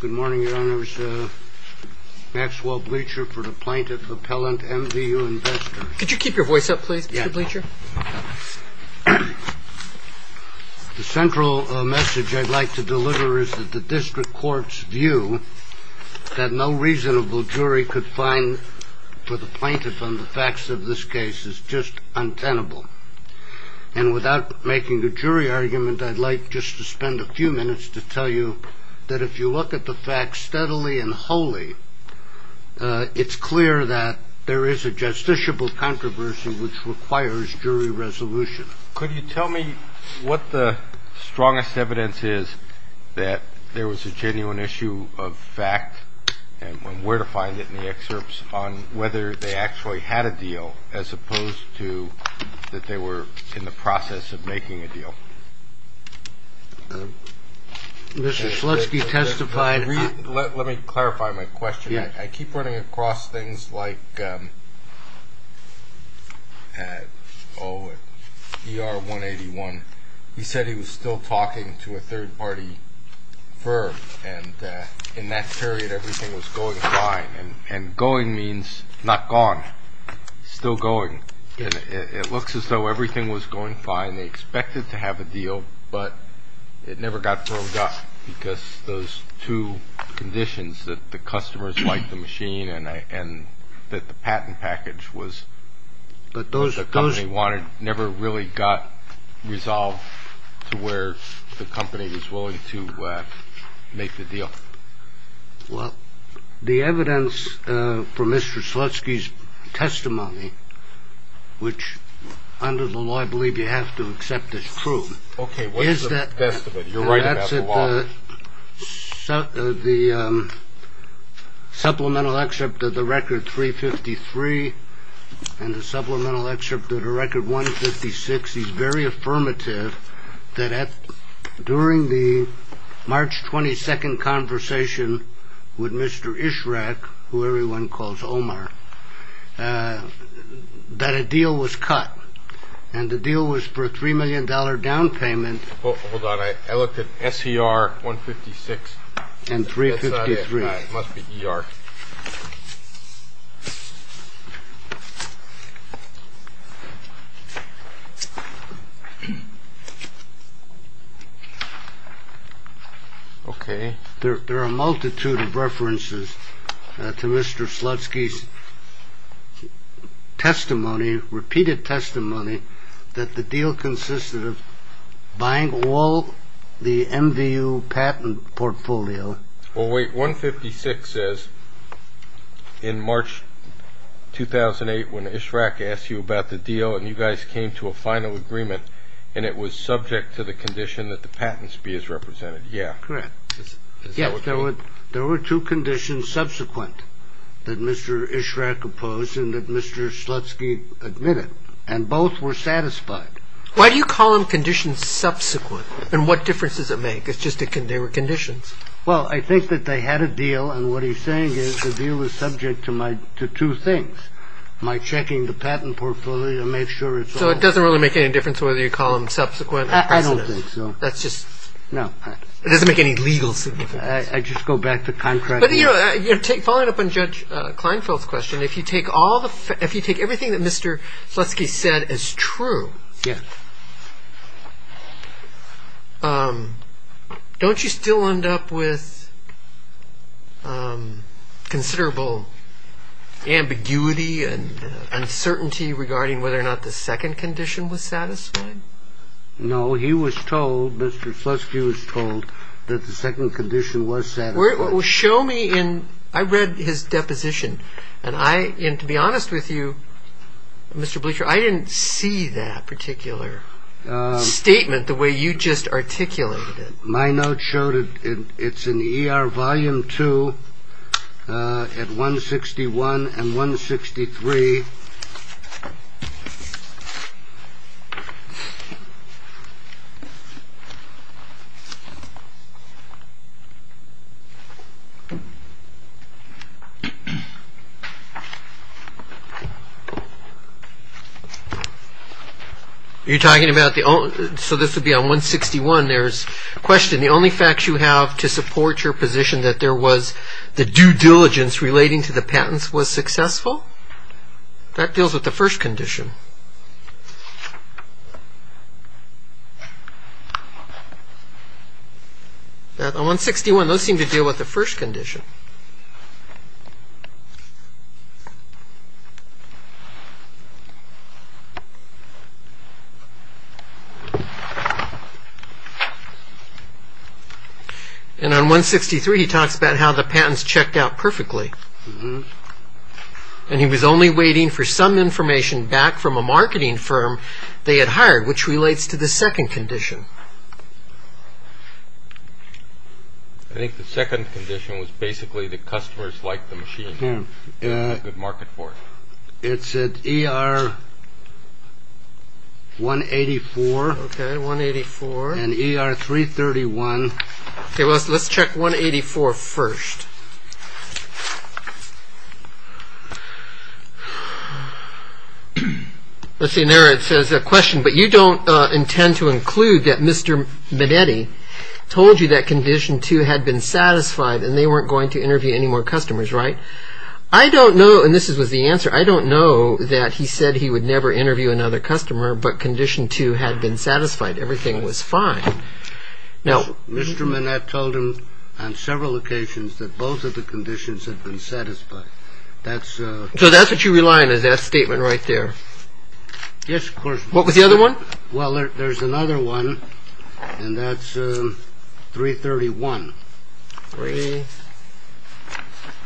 Good morning, Your Honors. Maxwell Bleacher for the Plaintiff Appellant, Mvuinvestors. Could you keep your voice up, please, Mr. Bleacher? The central message I'd like to deliver is that the district court's view that no reasonable jury could find for the plaintiff on the facts of this case is just untenable. And without making a jury argument, I'd like just to spend a few minutes to tell you that if you look at the facts steadily and wholly, it's clear that there is a justiciable controversy which requires jury resolution. Could you tell me what the strongest evidence is that there was a genuine issue of fact and where to find it in the excerpts on whether they actually had a deal as opposed to that they were in the process of making a deal? Let me clarify my question. I keep running across things like at ER 181, he said he was still talking to a third party firm and in that period everything was going fine. And going means not gone, still going. It looks as though everything was going fine. They expected to have a deal, but it never got brought up because those two conditions that the customers liked the machine and that the patent package was the company wanted never really got resolved to where the company was willing to make the deal. Well, the evidence for Mr. Slutsky's testimony, which under the law, I believe you have to accept this proof. Okay, what is the best of it? You're right about the law. The supplemental excerpt of the record 353 and the supplemental excerpt of the record 156 is very affirmative that during the March 22nd conversation with Mr. Ishraq, who everyone calls Omar, that a deal was cut and the deal was for a $3 million down payment. Hold on. I looked at SCR 156 and 353 must be ER. There are a multitude of references to Mr. Slutsky's repeated testimony that the deal consisted of buying all the MVU patent portfolio. Well, wait. 156 says in March 2008 when Ishraq asked you about the deal and you guys came to a final agreement and it was subject to the condition that the patents be as represented. Yeah. Correct. There were two conditions subsequent that Mr. Ishraq opposed and that Mr. Slutsky admitted and both were satisfied. Why do you call them conditions subsequent and what difference does it make? It's just that they were conditions. Well, I think that they had a deal and what he's saying is the deal is subject to my two things. My checking the patent portfolio to make sure it's so it doesn't really make any difference whether you call them subsequent. I don't think so. That's just no. It doesn't make any legal significance. I just go back to contract. Following up on Judge Kleinfeld's question, if you take all the if you take everything that Mr. Slutsky said is true, don't you still end up with considerable ambiguity and uncertainty regarding whether or not the second condition was satisfied? No, he was told Mr. Slutsky was told that the second condition was set. Well, show me in I read his deposition and I am to be honest with you, Mr. Bleacher. I didn't see that particular statement the way you just articulated it. My note showed it. It's an E.R. volume two at one sixty one and one sixty three. You're talking about the so this would be on one sixty one. There's a question. The only facts you have to support your position that there was the due diligence relating to the patents was successful. That deals with the first condition. That one sixty one those seem to deal with the first condition. And on one sixty three, he talks about how the patents checked out perfectly. And he was only waiting for some information back from a marketing firm they had hired, which relates to the second condition. I think the second condition was basically the customers like the machine market for it. It's an E.R. one eighty four. One eighty four and E.R. three thirty one. Let's check one eighty four first. Let's see. There it says a question, but you don't intend to include that. Mr. Manetti told you that condition two had been satisfied and they weren't going to interview any more customers. Right. I don't know. And this was the answer. I don't know that he said he would never interview another customer, but condition two had been satisfied. Everything was fine. Mr. Manetti told him on several occasions that both of the conditions had been satisfied. So that's what you rely on is that statement right there. Yes, of course. What was the other one? Well, there's another one and that's three thirty one. Three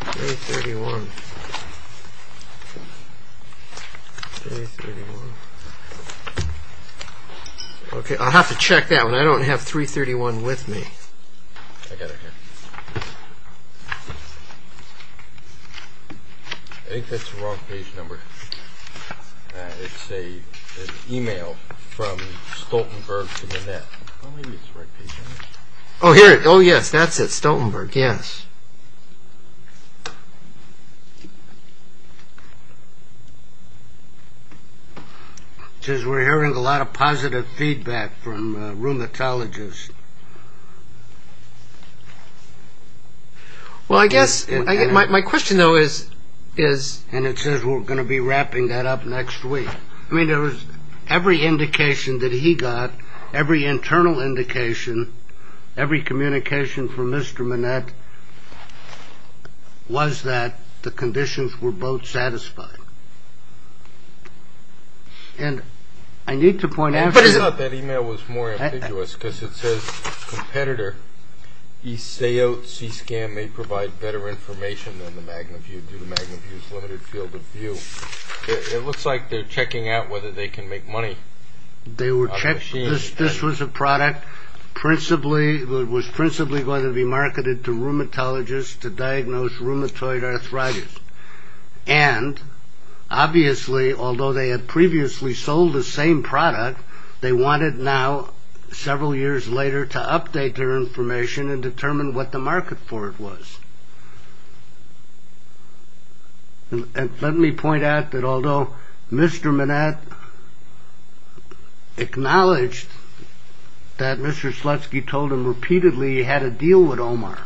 thirty one. Three thirty one. OK, I'll have to check that one. I don't have three thirty one with me. I got it here. I think that's the wrong page number. It's an e-mail from Stoltenberg to the net. Maybe it's the right page number. Oh, here it is. Oh, yes, that's it. Stoltenberg. Yes. It says we're hearing a lot of positive feedback from rheumatologists. Well, I guess my question, though, is. And it says we're going to be wrapping that up next week. I mean, there was every indication that he got, every internal indication, every communication from Mr. Manett. Was that the conditions were both satisfied? And I need to point out that email was more ambiguous because it says competitor. You say, oh, see, scam may provide better information than the Magnum. You do the Magnum. It looks like they're checking out whether they can make money. They were checking this. This was a product principally was principally going to be marketed to rheumatologists to diagnose rheumatoid arthritis. And obviously, although they had previously sold the same product, they wanted now several years later to update their information and determine what the market for it was. And let me point out that although Mr. Manett acknowledged that Mr. Slutsky told him repeatedly he had a deal with Omar.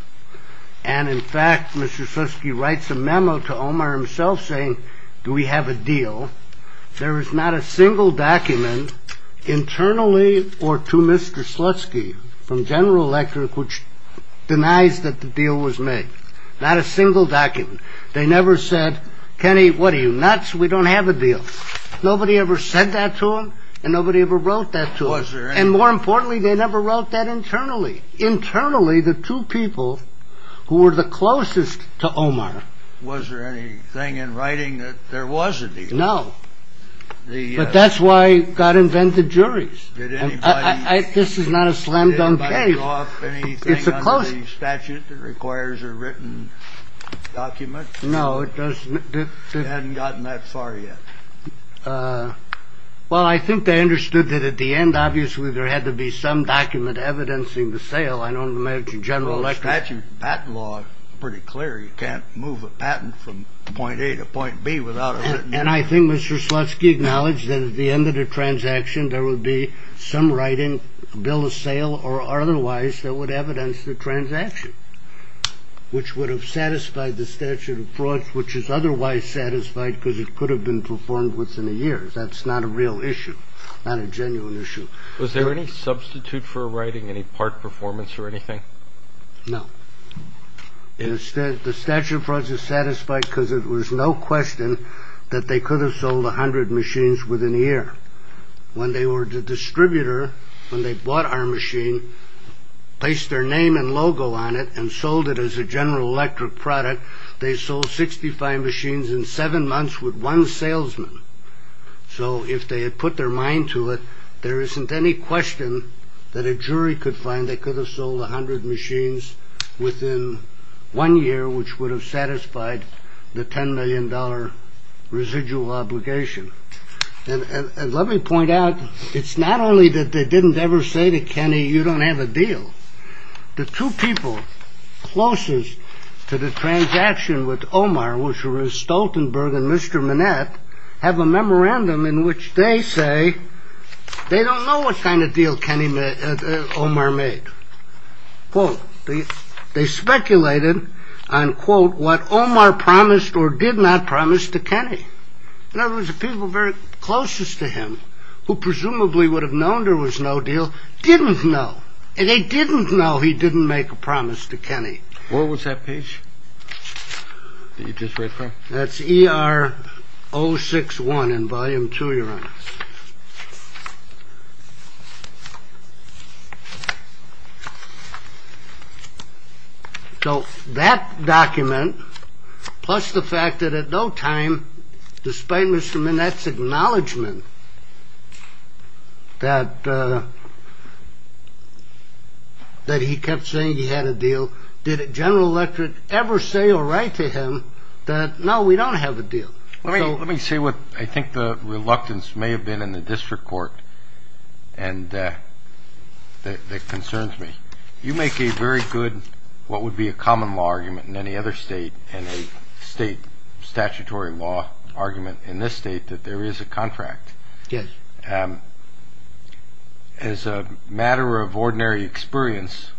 And in fact, Mr. Slutsky writes a memo to Omar himself saying, do we have a deal? There is not a single document internally or to Mr. Slutsky from General Electric, which denies that the deal was made. Not a single document. They never said, Kenny, what are you nuts? We don't have a deal. Nobody ever said that to him and nobody ever wrote that to him. And more importantly, they never wrote that internally. Internally, the two people who were the closest to Omar. Was there anything in writing that there was a deal? No. But that's why God invented juries. This is not a slam dunk case. It's a close statute that requires a written document. No, it doesn't. They hadn't gotten that far yet. Well, I think they understood that at the end, obviously, there had to be some document evidencing the sale. I don't imagine General Electric statute patent law pretty clear. You can't move a patent from point A to point B without it. And I think Mr. Slutsky acknowledged that at the end of the transaction, there would be some writing bill of sale or otherwise that would evidence the transaction. Which would have satisfied the statute of fraud, which is otherwise satisfied because it could have been performed within a year. That's not a real issue, not a genuine issue. Was there any substitute for writing any part performance or anything? No. Instead, the statute of frauds is satisfied because it was no question that they could have sold 100 machines within a year. When they were the distributor, when they bought our machine, placed their name and logo on it and sold it as a General Electric product, they sold 65 machines in seven months with one salesman. So if they had put their mind to it, there isn't any question that a jury could find. They could have sold 100 machines within one year, which would have satisfied the 10 million dollar residual obligation. And let me point out, it's not only that they didn't ever say to Kenny, you don't have a deal. The two people closest to the transaction with Omar, which were Stoltenberg and Mr. Manette, have a memorandum in which they say they don't know what kind of deal Kenny, Omar made. Well, they speculated on, quote, what Omar promised or did not promise to Kenny. In other words, the people very closest to him, who presumably would have known there was no deal, didn't know. And they didn't know he didn't make a promise to Kenny. What was that page that you just read from? That's ER 061 in volume two, Your Honor. So that document, plus the fact that at no time, despite Mr. Manette's acknowledgement that he kept saying he had a deal, did General Electric ever say or write to him that, no, we don't have a deal? Let me say what I think the reluctance may have been in the district court that concerns me. You make a very good what would be a common law argument in any other state and a state statutory law argument in this state that there is a contract. Yes. And as a matter of ordinary experience,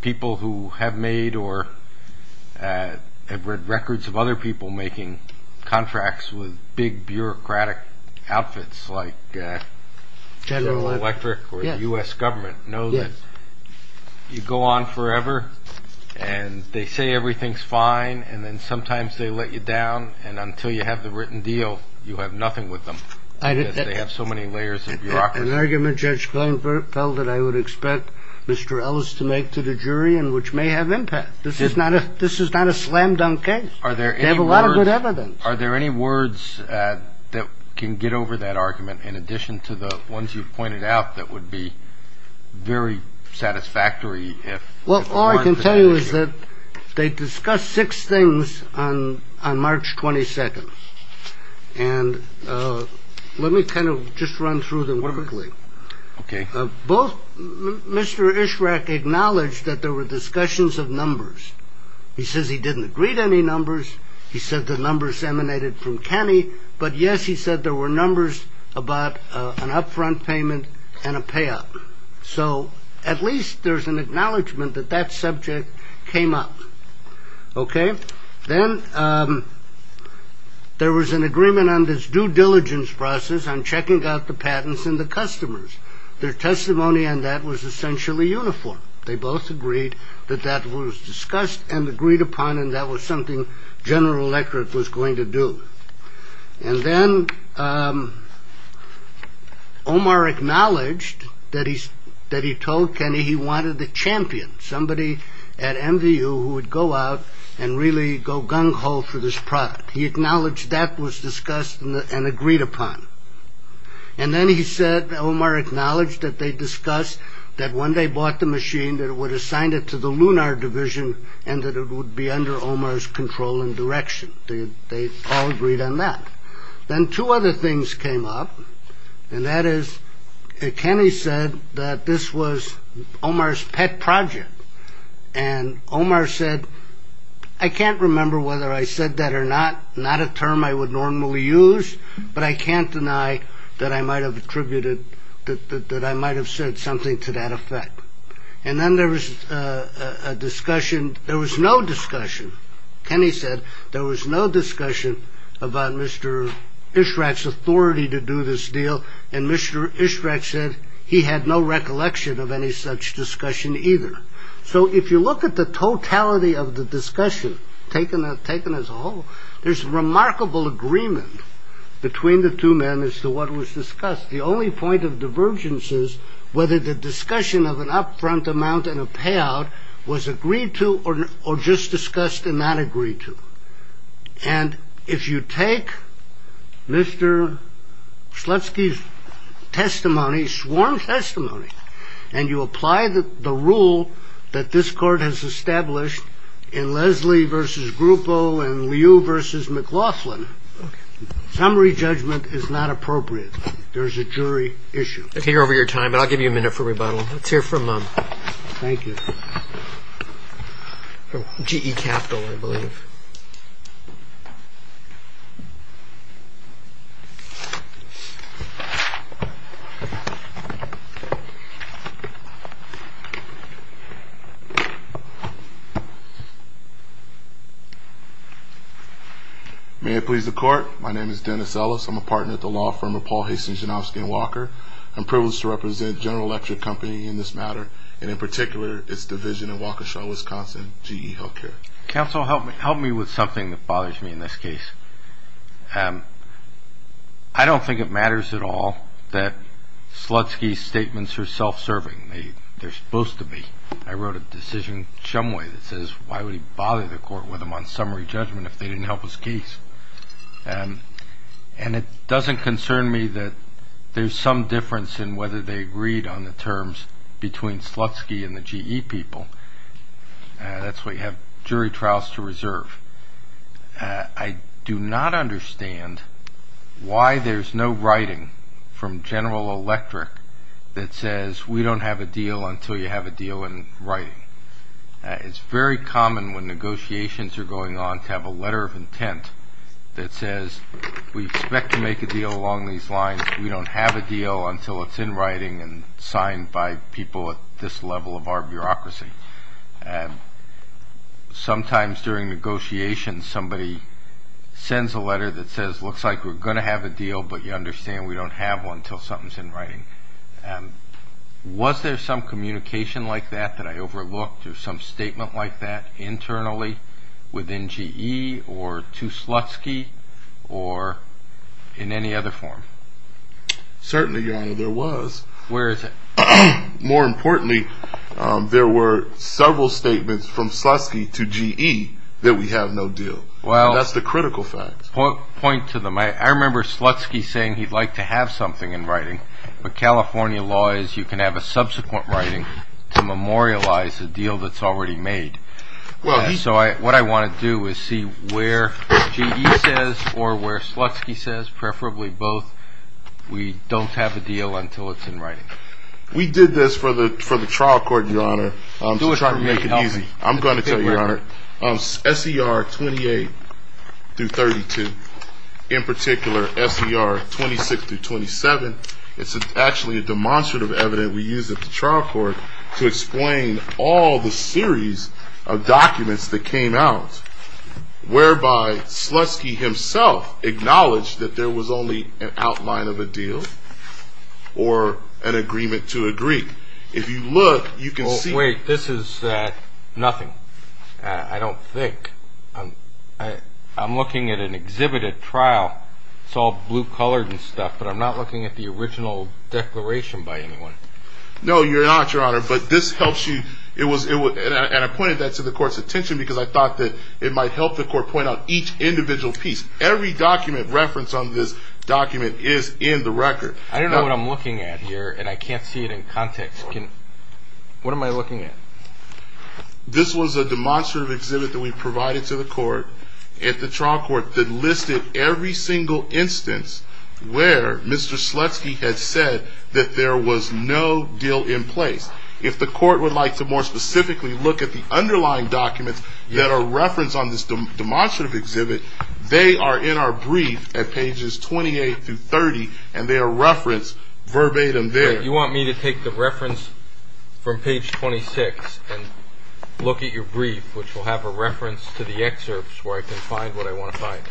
people who have made or have read records of other people making contracts with big bureaucratic outfits like General Electric or the U.S. government know that you go on forever and they say everything's fine and then sometimes they let you down. And until you have the written deal, you have nothing with them. They have so many layers of bureaucracy. An argument Judge Kleinfeld that I would expect Mr. Ellis to make to the jury and which may have impact. This is not a slam dunk case. They have a lot of good evidence. Are there any words that can get over that argument in addition to the ones you've pointed out that would be very satisfactory? Well, all I can tell you is that they discussed six things on on March 22nd. And let me kind of just run through them quickly. OK. Both Mr. Ishraq acknowledged that there were discussions of numbers. He says he didn't agree to any numbers. He said the numbers emanated from Kenny. But yes, he said there were numbers about an upfront payment and a payoff. So at least there's an acknowledgement that that subject came up. OK. Then there was an agreement on this due diligence process on checking out the patents and the customers. Their testimony on that was essentially uniform. They both agreed that that was discussed and agreed upon. And that was something General Electric was going to do. And then Omar acknowledged that he's that he told Kenny he wanted the champion. Somebody at MVU who would go out and really go gung ho for this product. He acknowledged that was discussed and agreed upon. And then he said Omar acknowledged that they discussed that when they bought the machine, that it would assign it to the lunar division and that it would be under Omar's control and direction. They all agreed on that. Then two other things came up. And that is Kenny said that this was Omar's pet project. And Omar said, I can't remember whether I said that or not. Not a term I would normally use, but I can't deny that I might have attributed that I might have said something to that effect. And then there was a discussion. There was no discussion. Kenny said there was no discussion about Mr. Israq's authority to do this deal. And Mr. Israq said he had no recollection of any such discussion either. So if you look at the totality of the discussion taken, taken as a whole, there's remarkable agreement between the two men as to what was discussed. The only point of divergence is whether the discussion of an upfront amount and a payout was agreed to or just discussed and not agreed to. And if you take Mr. Slutsky's testimony, sworn testimony, and you apply the rule that this court has established in Leslie versus Grupo and Liu versus McLaughlin, summary judgment is not appropriate. There is a jury issue. Okay, you're over your time, but I'll give you a minute for rebuttal. Let's hear from GE Capital, I believe. May it please the Court. My name is Dennis Ellis. I'm a partner at the law firm of Paul Hastings, Janowski & Walker. I'm privileged to represent General Electric Company in this matter, and in particular its division in Waukesha, Wisconsin, GE Healthcare. Counsel, help me with something that bothers me in this case. I don't think it matters at all that Slutsky's statements are self-serving. They're supposed to be. I wrote a decision some way that says why would he bother the court with him on summary judgment if they didn't help his case? And it doesn't concern me that there's some difference in whether they agreed on the terms between Slutsky and the GE people. That's why you have jury trials to reserve. I do not understand why there's no writing from General Electric that says we don't have a deal until you have a deal in writing. It's very common when negotiations are going on to have a letter of intent that says we expect to make a deal along these lines. We don't have a deal until it's in writing and signed by people at this level of our bureaucracy. Sometimes during negotiations somebody sends a letter that says looks like we're going to have a deal, but you understand we don't have one until something's in writing. Was there some communication like that that I overlooked or some statement like that internally within GE or to Slutsky or in any other form? Certainly, Your Honor, there was. Where is it? More importantly, there were several statements from Slutsky to GE that we have no deal. That's the critical fact. Point to them. I remember Slutsky saying he'd like to have something in writing, but California law is you can have a subsequent writing to memorialize a deal that's already made. So what I want to do is see where GE says or where Slutsky says, preferably both, we don't have a deal until it's in writing. We did this for the trial court, Your Honor, to try to make it easy. SER 28 through 32, in particular SER 26 through 27, it's actually a demonstrative evidence we used at the trial court to explain all the series of documents that came out, whereby Slutsky himself acknowledged that there was only an outline of a deal or an agreement to agree. If you look, you can see. Wait, this is nothing. I don't think. I'm looking at an exhibited trial. It's all blue-colored and stuff, but I'm not looking at the original declaration by anyone. No, you're not, Your Honor, but this helps you. And I pointed that to the court's attention because I thought that it might help the court point out each individual piece. Every document reference on this document is in the record. I don't know what I'm looking at here, and I can't see it in context. What am I looking at? This was a demonstrative exhibit that we provided to the court at the trial court that listed every single instance where Mr. Slutsky had said that there was no deal in place. If the court would like to more specifically look at the underlying documents that are referenced on this demonstrative exhibit, they are in our brief at pages 28 through 30, and they are referenced verbatim there. You want me to take the reference from page 26 and look at your brief, which will have a reference to the excerpts where I can find what I want to find?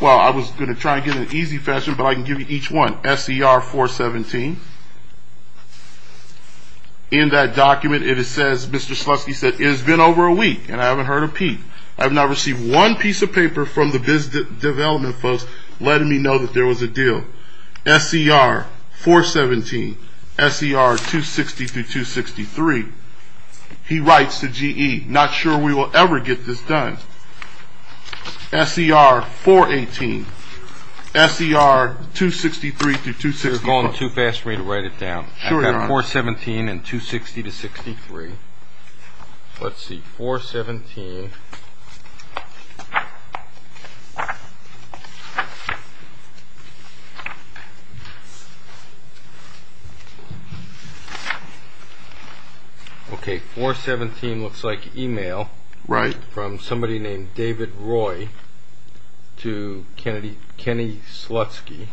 Well, I was going to try and get it in easy fashion, but I can give you each one. SCR 417. In that document, it says Mr. Slutsky said, It has been over a week, and I haven't heard a peep. I have not received one piece of paper from the business development folks letting me know that there was a deal. SCR 417. SCR 260-263. He writes to GE, not sure we will ever get this done. SCR 418. SCR 263-264. You're going too fast for me to write it down. I've got 417 and 260-63. Let's see, 417. Okay, 417 looks like email from somebody named David Roy to Kenny Slutsky.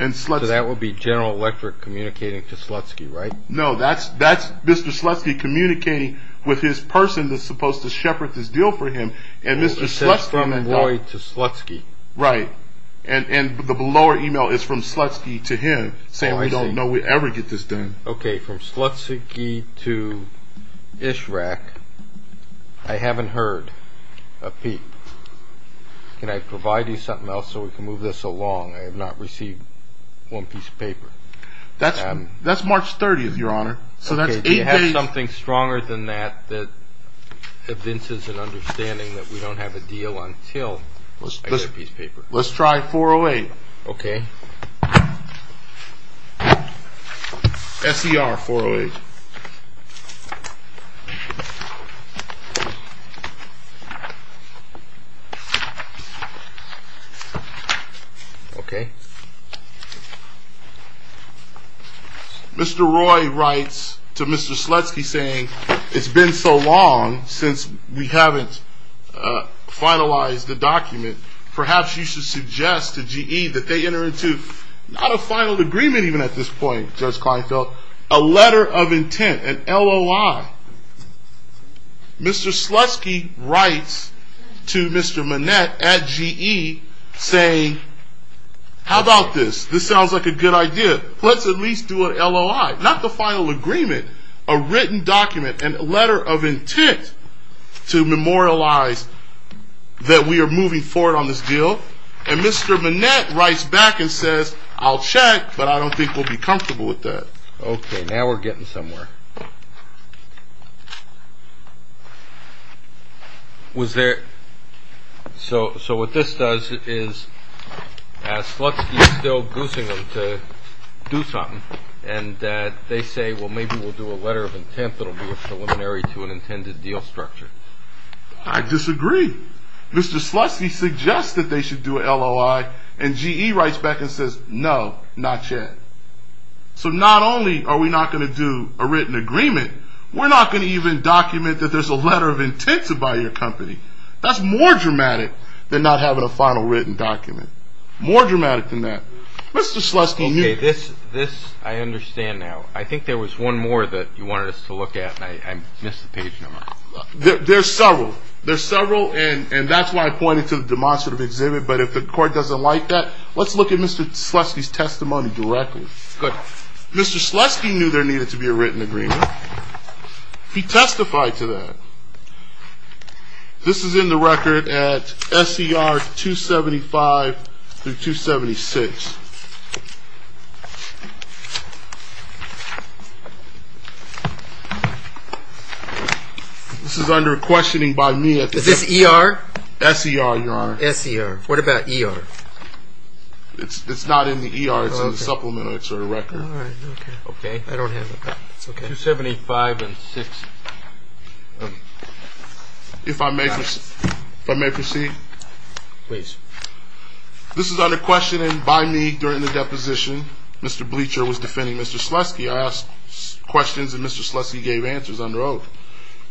So that would be General Electric communicating to Slutsky, right? No, that's Mr. Slutsky communicating with his person that's supposed to shepherd this deal for him. It says from Roy to Slutsky. Right, and the lower email is from Slutsky to him, saying we don't know we'll ever get this done. Okay, from Slutsky to ISHRAC, I haven't heard a peep. Can I provide you something else so we can move this along? I have not received one piece of paper. That's March 30th, Your Honor. Okay, do you have something stronger than that that evinces an understanding that we don't have a deal until I get a piece of paper? Let's try 408. Okay. SCR 408. Okay. Mr. Roy writes to Mr. Slutsky saying it's been so long since we haven't finalized the document. Perhaps you should suggest to GE that they enter into not a final agreement even at this point, Judge Kleinfeld, a letter of intent, an LOI. Mr. Slutsky writes to Mr. Manette at GE saying, how about this? This sounds like a good idea. Let's at least do an LOI. Not the final agreement, a written document, a letter of intent to memorialize that we are moving forward on this deal. And Mr. Manette writes back and says, I'll check, but I don't think we'll be comfortable with that. Okay, now we're getting somewhere. Was there – so what this does is, as Slutsky is still goosing them to do something, and they say, well, maybe we'll do a letter of intent that will be a preliminary to an intended deal structure. I disagree. Mr. Slutsky suggests that they should do an LOI, and GE writes back and says, no, not yet. So not only are we not going to do a written agreement, we're not going to even document that there's a letter of intent to buy your company. That's more dramatic than not having a final written document. More dramatic than that. Mr. Slutsky – Okay, this I understand now. I think there was one more that you wanted us to look at, and I missed the page number. There's several. There's several, and that's why I pointed to the demonstrative exhibit. But if the court doesn't like that, let's look at Mr. Slutsky's testimony directly. Good. Mr. Slutsky knew there needed to be a written agreement. He testified to that. This is in the record at SER 275 through 276. This is under questioning by me. Is this ER? SER, Your Honor. SER. What about ER? It's not in the ER. It's in the supplement. It's in the record. All right. Okay. I don't have it. Okay. 275 and 6. If I may proceed? This is under questioning by me during the deposition. Mr. Bleacher was defending Mr. Slutsky. I asked questions, and Mr. Slutsky gave answers under oath.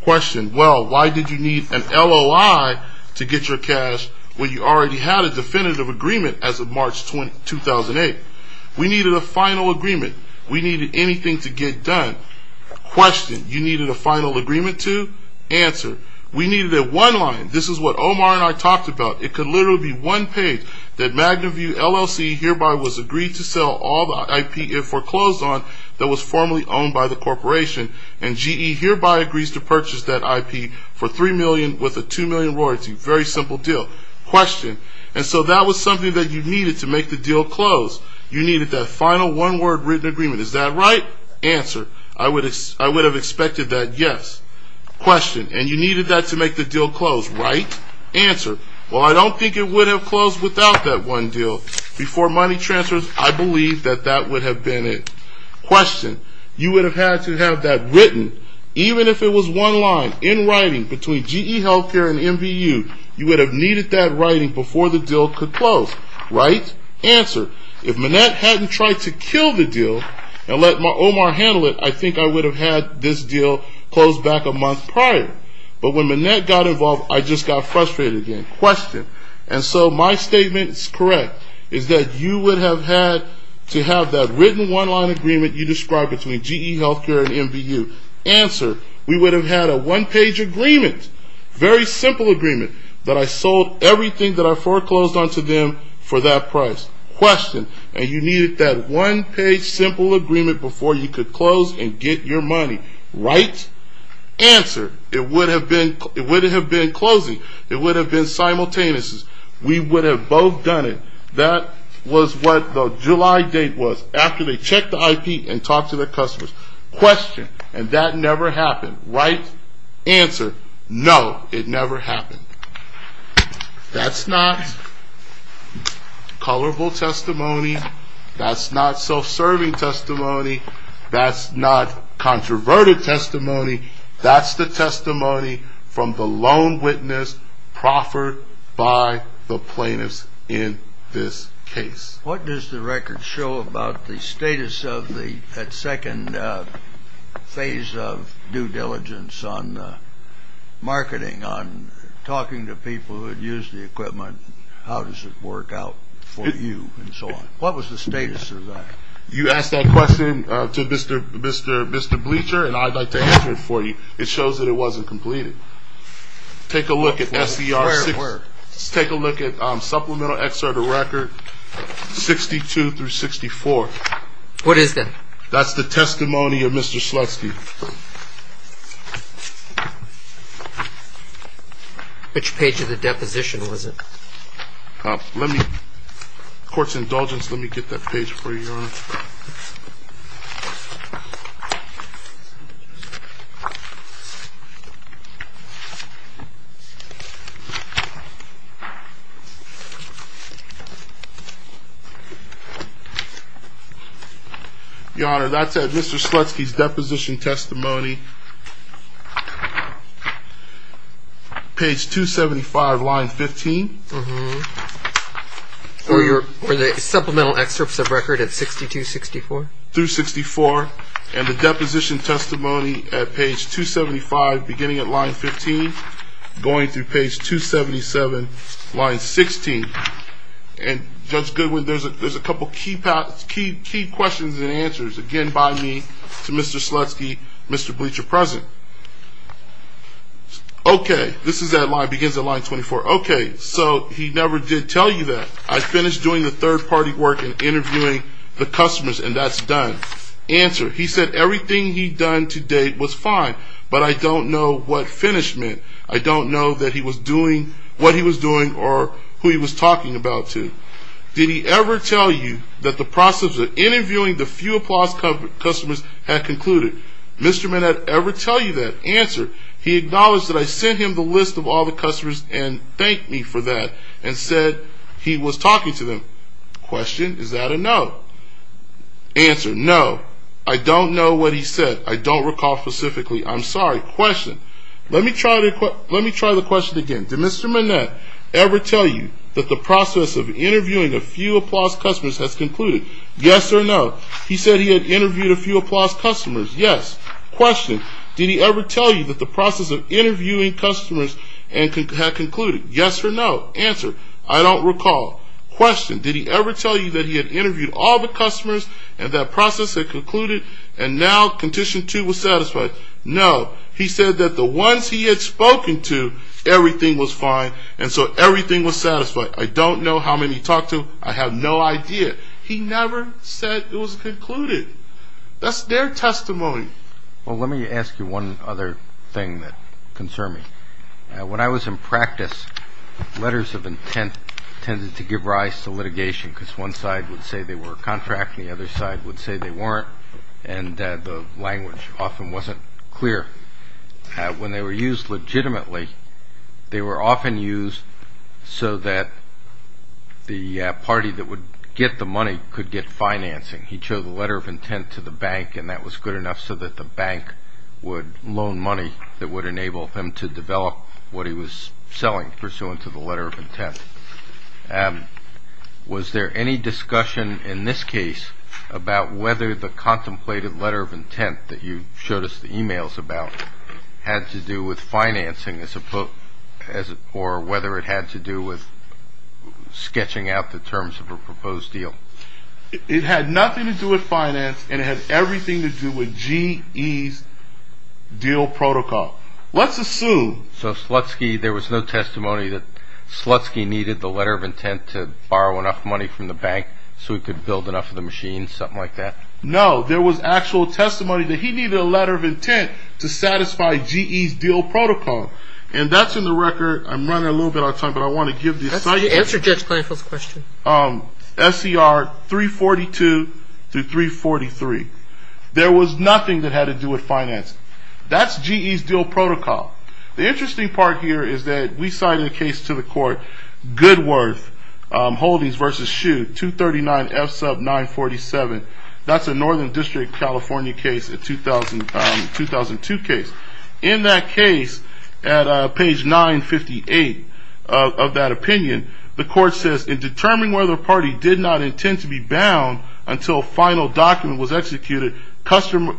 Question. Well, why did you need an LOI to get your cash when you already had a definitive agreement as of March 2008? We needed a final agreement. We needed anything to get done. Question. You needed a final agreement to? Answer. We needed a one-line. This is what Omar and I talked about. It could literally be one page. That Magnaview LLC hereby was agreed to sell all the IP it foreclosed on that was formerly owned by the corporation. And GE hereby agrees to purchase that IP for $3 million with a $2 million royalty. Very simple deal. Question. And so that was something that you needed to make the deal close. You needed that final one-word written agreement. Is that right? Answer. I would have expected that yes. Question. And you needed that to make the deal close, right? Answer. Well, I don't think it would have closed without that one deal. Before money transfers, I believe that that would have been it. Question. You would have had to have that written. Even if it was one line in writing between GE Healthcare and MVU, you would have needed that writing before the deal could close. Right? Answer. If Manette hadn't tried to kill the deal and let Omar handle it, I think I would have had this deal closed back a month prior. But when Manette got involved, I just got frustrated again. Question. And so my statement is correct, is that you would have had to have that written one-line agreement you described between GE Healthcare and MVU. Answer. We would have had a one-page agreement, very simple agreement, that I sold everything that I foreclosed onto them for that price. Question. And you needed that one-page simple agreement before you could close and get your money. Right? Answer. It would have been closing. It would have been simultaneous. We would have both done it. That was what the July date was, after they checked the IP and talked to their customers. Question. And that never happened. Right? Answer. No, it never happened. That's not colorful testimony. That's not self-serving testimony. That's not controverted testimony. That's the testimony from the lone witness proffered by the plaintiffs in this case. What does the record show about the status of that second phase of due diligence on marketing, on talking to people who had used the equipment, how does it work out for you, and so on? What was the status of that? You asked that question to Mr. Bleacher, and I'd like to answer it for you. It shows that it wasn't completed. Take a look at SCR- Where? Take a look at supplemental excerpt of record 62 through 64. What is that? That's the testimony of Mr. Slutsky. Which page of the deposition was it? Court's indulgence, let me get that page for you, Your Honor. Your Honor, that's Mr. Slutsky's deposition testimony, page 275, line 15. Were the supplemental excerpts of record at 62-64? Through 64, and the deposition testimony at page 275, beginning at line 15, going through page 277, line 16. And Judge Goodwin, there's a couple key questions and answers, again, by me to Mr. Slutsky, Mr. Bleacher present. Okay, this is that line, begins at line 24. Okay, so he never did tell you that. I finished doing the third-party work in interviewing the customers, and that's done. Answer, he said everything he'd done to date was fine, but I don't know what finish meant. I don't know that he was doing what he was doing, or who he was talking about to. Did he ever tell you that the process of interviewing the few applause customers had concluded? Did Mr. Manette ever tell you that? Answer, he acknowledged that I sent him the list of all the customers and thanked me for that, and said he was talking to them. Question, is that a no? Answer, no. I don't know what he said. I don't recall specifically. I'm sorry. Question, let me try the question again. Did Mr. Manette ever tell you that the process of interviewing a few applause customers has concluded? Yes or no. I don't recall. He said he had interviewed a few applause customers. Yes. Question, did he ever tell you that the process of interviewing customers had concluded? Yes or no. Answer, I don't recall. Question, did he ever tell you that he had interviewed all the customers, and that process had concluded, and now condition two was satisfied? No. He said that the ones he had spoken to, everything was fine, and so everything was satisfied. I don't know how many he talked to. I have no idea. He never said it was concluded. That's their testimony. Well, let me ask you one other thing that concerns me. When I was in practice, letters of intent tended to give rise to litigation because one side would say they were a contract and the other side would say they weren't, and the language often wasn't clear. When they were used legitimately, they were often used so that the party that would get the money could get financing. He'd show the letter of intent to the bank, and that was good enough so that the bank would loan money that would enable him to develop what he was selling, pursuant to the letter of intent. Was there any discussion in this case about whether the contemplated letter of intent that you showed us the emails about had to do with financing or whether it had to do with sketching out the terms of a proposed deal? It had nothing to do with finance, and it had everything to do with GE's deal protocol. Let's assume. So Slutsky, there was no testimony that Slutsky needed the letter of intent to borrow enough money from the bank so he could build enough of the machine, something like that? No, there was actual testimony that he needed a letter of intent to satisfy GE's deal protocol, and that's in the record. I'm running a little bit out of time, but I want to give the assignment. Answer Judge Kleinfeld's question. SCR 342-343. There was nothing that had to do with finance. That's GE's deal protocol. The interesting part here is that we cited a case to the court, Goodworth Holdings v. Shue, 239F sub 947. That's a Northern District, California case, a 2002 case. In that case, at page 958 of that opinion, the court says, In determining whether a party did not intend to be bound until a final document was executed, custom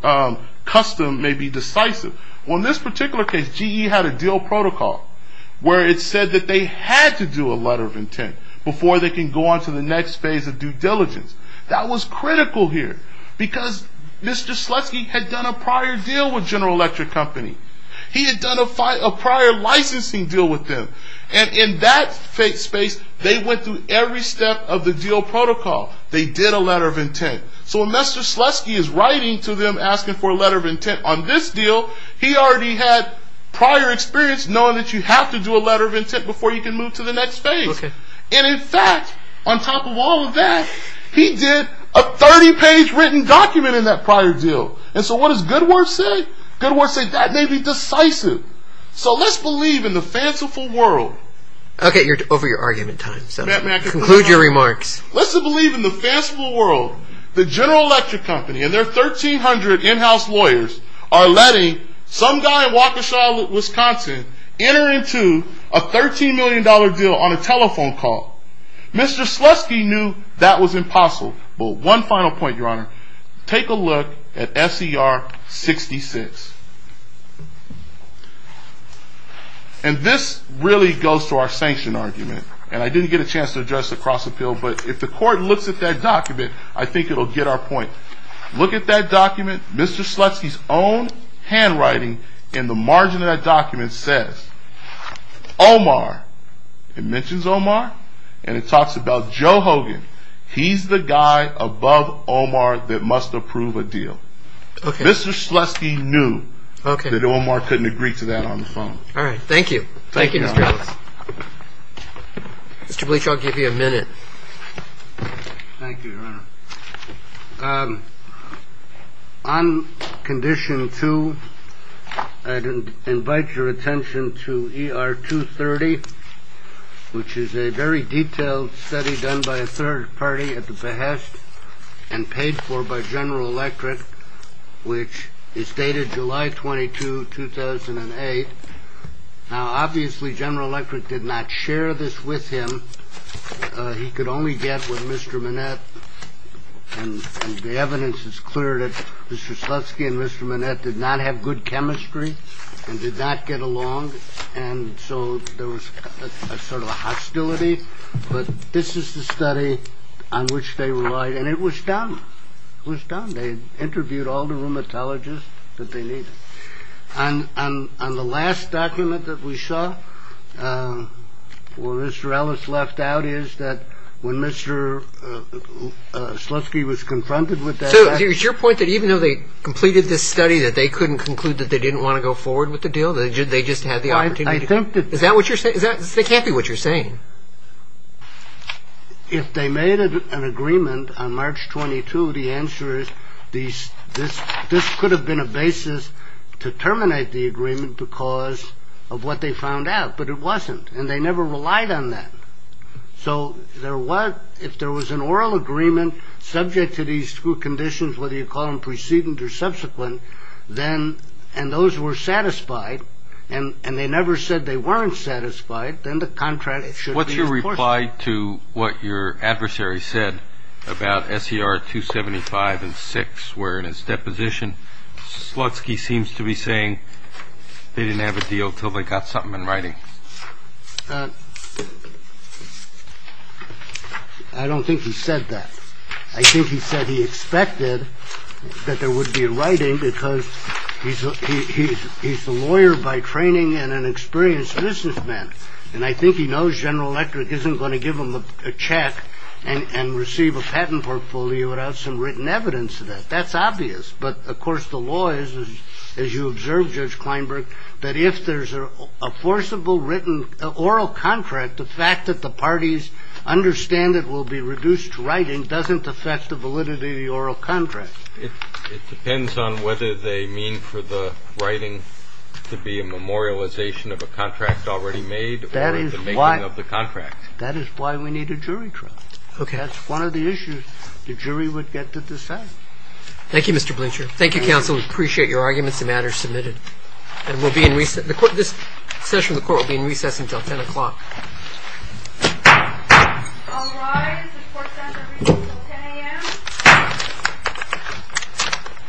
may be decisive. On this particular case, GE had a deal protocol where it said that they had to do a letter of intent before they can go on to the next phase of due diligence. That was critical here because Mr. Slutsky had done a prior deal with General Electric Company. He had done a prior licensing deal with them. In that space, they went through every step of the deal protocol. They did a letter of intent. When Mr. Slutsky is writing to them asking for a letter of intent on this deal, he already had prior experience knowing that you have to do a letter of intent before you can move to the next phase. In fact, on top of all of that, he did a 30-page written document in that prior deal. What does Goodworth say? Goodworth says that may be decisive. So let's believe in the fanciful world. Okay, you're over your argument time. Conclude your remarks. Let's believe in the fanciful world. The General Electric Company and their 1,300 in-house lawyers are letting some guy in Waukesha, Wisconsin, enter into a $13 million deal on a telephone call. Mr. Slutsky knew that was impossible. One final point, Your Honor. Take a look at SCR 66. This really goes to our sanction argument. I didn't get a chance to address the cross-appeal, but if the court looks at that document, I think it will get our point. Look at that document. Mr. Slutsky's own handwriting in the margin of that document says, Omar. It mentions Omar, and it talks about Joe Hogan. He's the guy above Omar that must approve a deal. Mr. Slutsky knew that Omar couldn't agree to that on the phone. All right, thank you. Thank you, Mr. Ellis. Mr. Bleach, I'll give you a minute. Thank you, Your Honor. On condition two, I'd invite your attention to ER 230, which is a very detailed study done by a third party at the behest and paid for by General Electric, which is dated July 22, 2008. Now, obviously, General Electric did not share this with him. He could only get with Mr. Manette. And the evidence is clear that Mr. Slutsky and Mr. Manette did not have good chemistry and did not get along. And so there was a sort of a hostility. But this is the study on which they relied. And it was done. It was done. They interviewed all the rheumatologists that they needed. And on the last document that we saw where Mr. Ellis left out is that when Mr. Slutsky was confronted with that. So is your point that even though they completed this study, that they couldn't conclude that they didn't want to go forward with the deal? They just had the opportunity. Is that what you're saying? That can't be what you're saying. If they made an agreement on March 22, the answer is this. This could have been a basis to terminate the agreement because of what they found out. But it wasn't. And they never relied on that. So there was if there was an oral agreement subject to these two conditions, whether you call them preceding or subsequent, then. And those were satisfied. And they never said they weren't satisfied. Then the contract. What's your reply to what your adversary said about SCR 275 and six were in his deposition? Slutsky seems to be saying they didn't have a deal till they got something in writing. I don't think he said that. I think he said he expected that there would be writing because he's he's he's a lawyer by training and an experienced businessman. And I think he knows General Electric isn't going to give him a check and receive a patent portfolio without some written evidence of that. That's obvious. But of course, the law is, as you observe, Judge Kleinberg, that if there's a forcible written oral contract, that the fact that the parties understand it will be reduced to writing doesn't affect the validity of the oral contract. It depends on whether they mean for the writing to be a memorialization of a contract already made. That is why of the contract. That is why we need a jury trial. Okay. That's one of the issues the jury would get to decide. Thank you, Mr. Bleacher. Thank you, counsel. We appreciate your arguments and matters submitted. And we'll be in recent court. This session of the court will be in recess until 10 o'clock.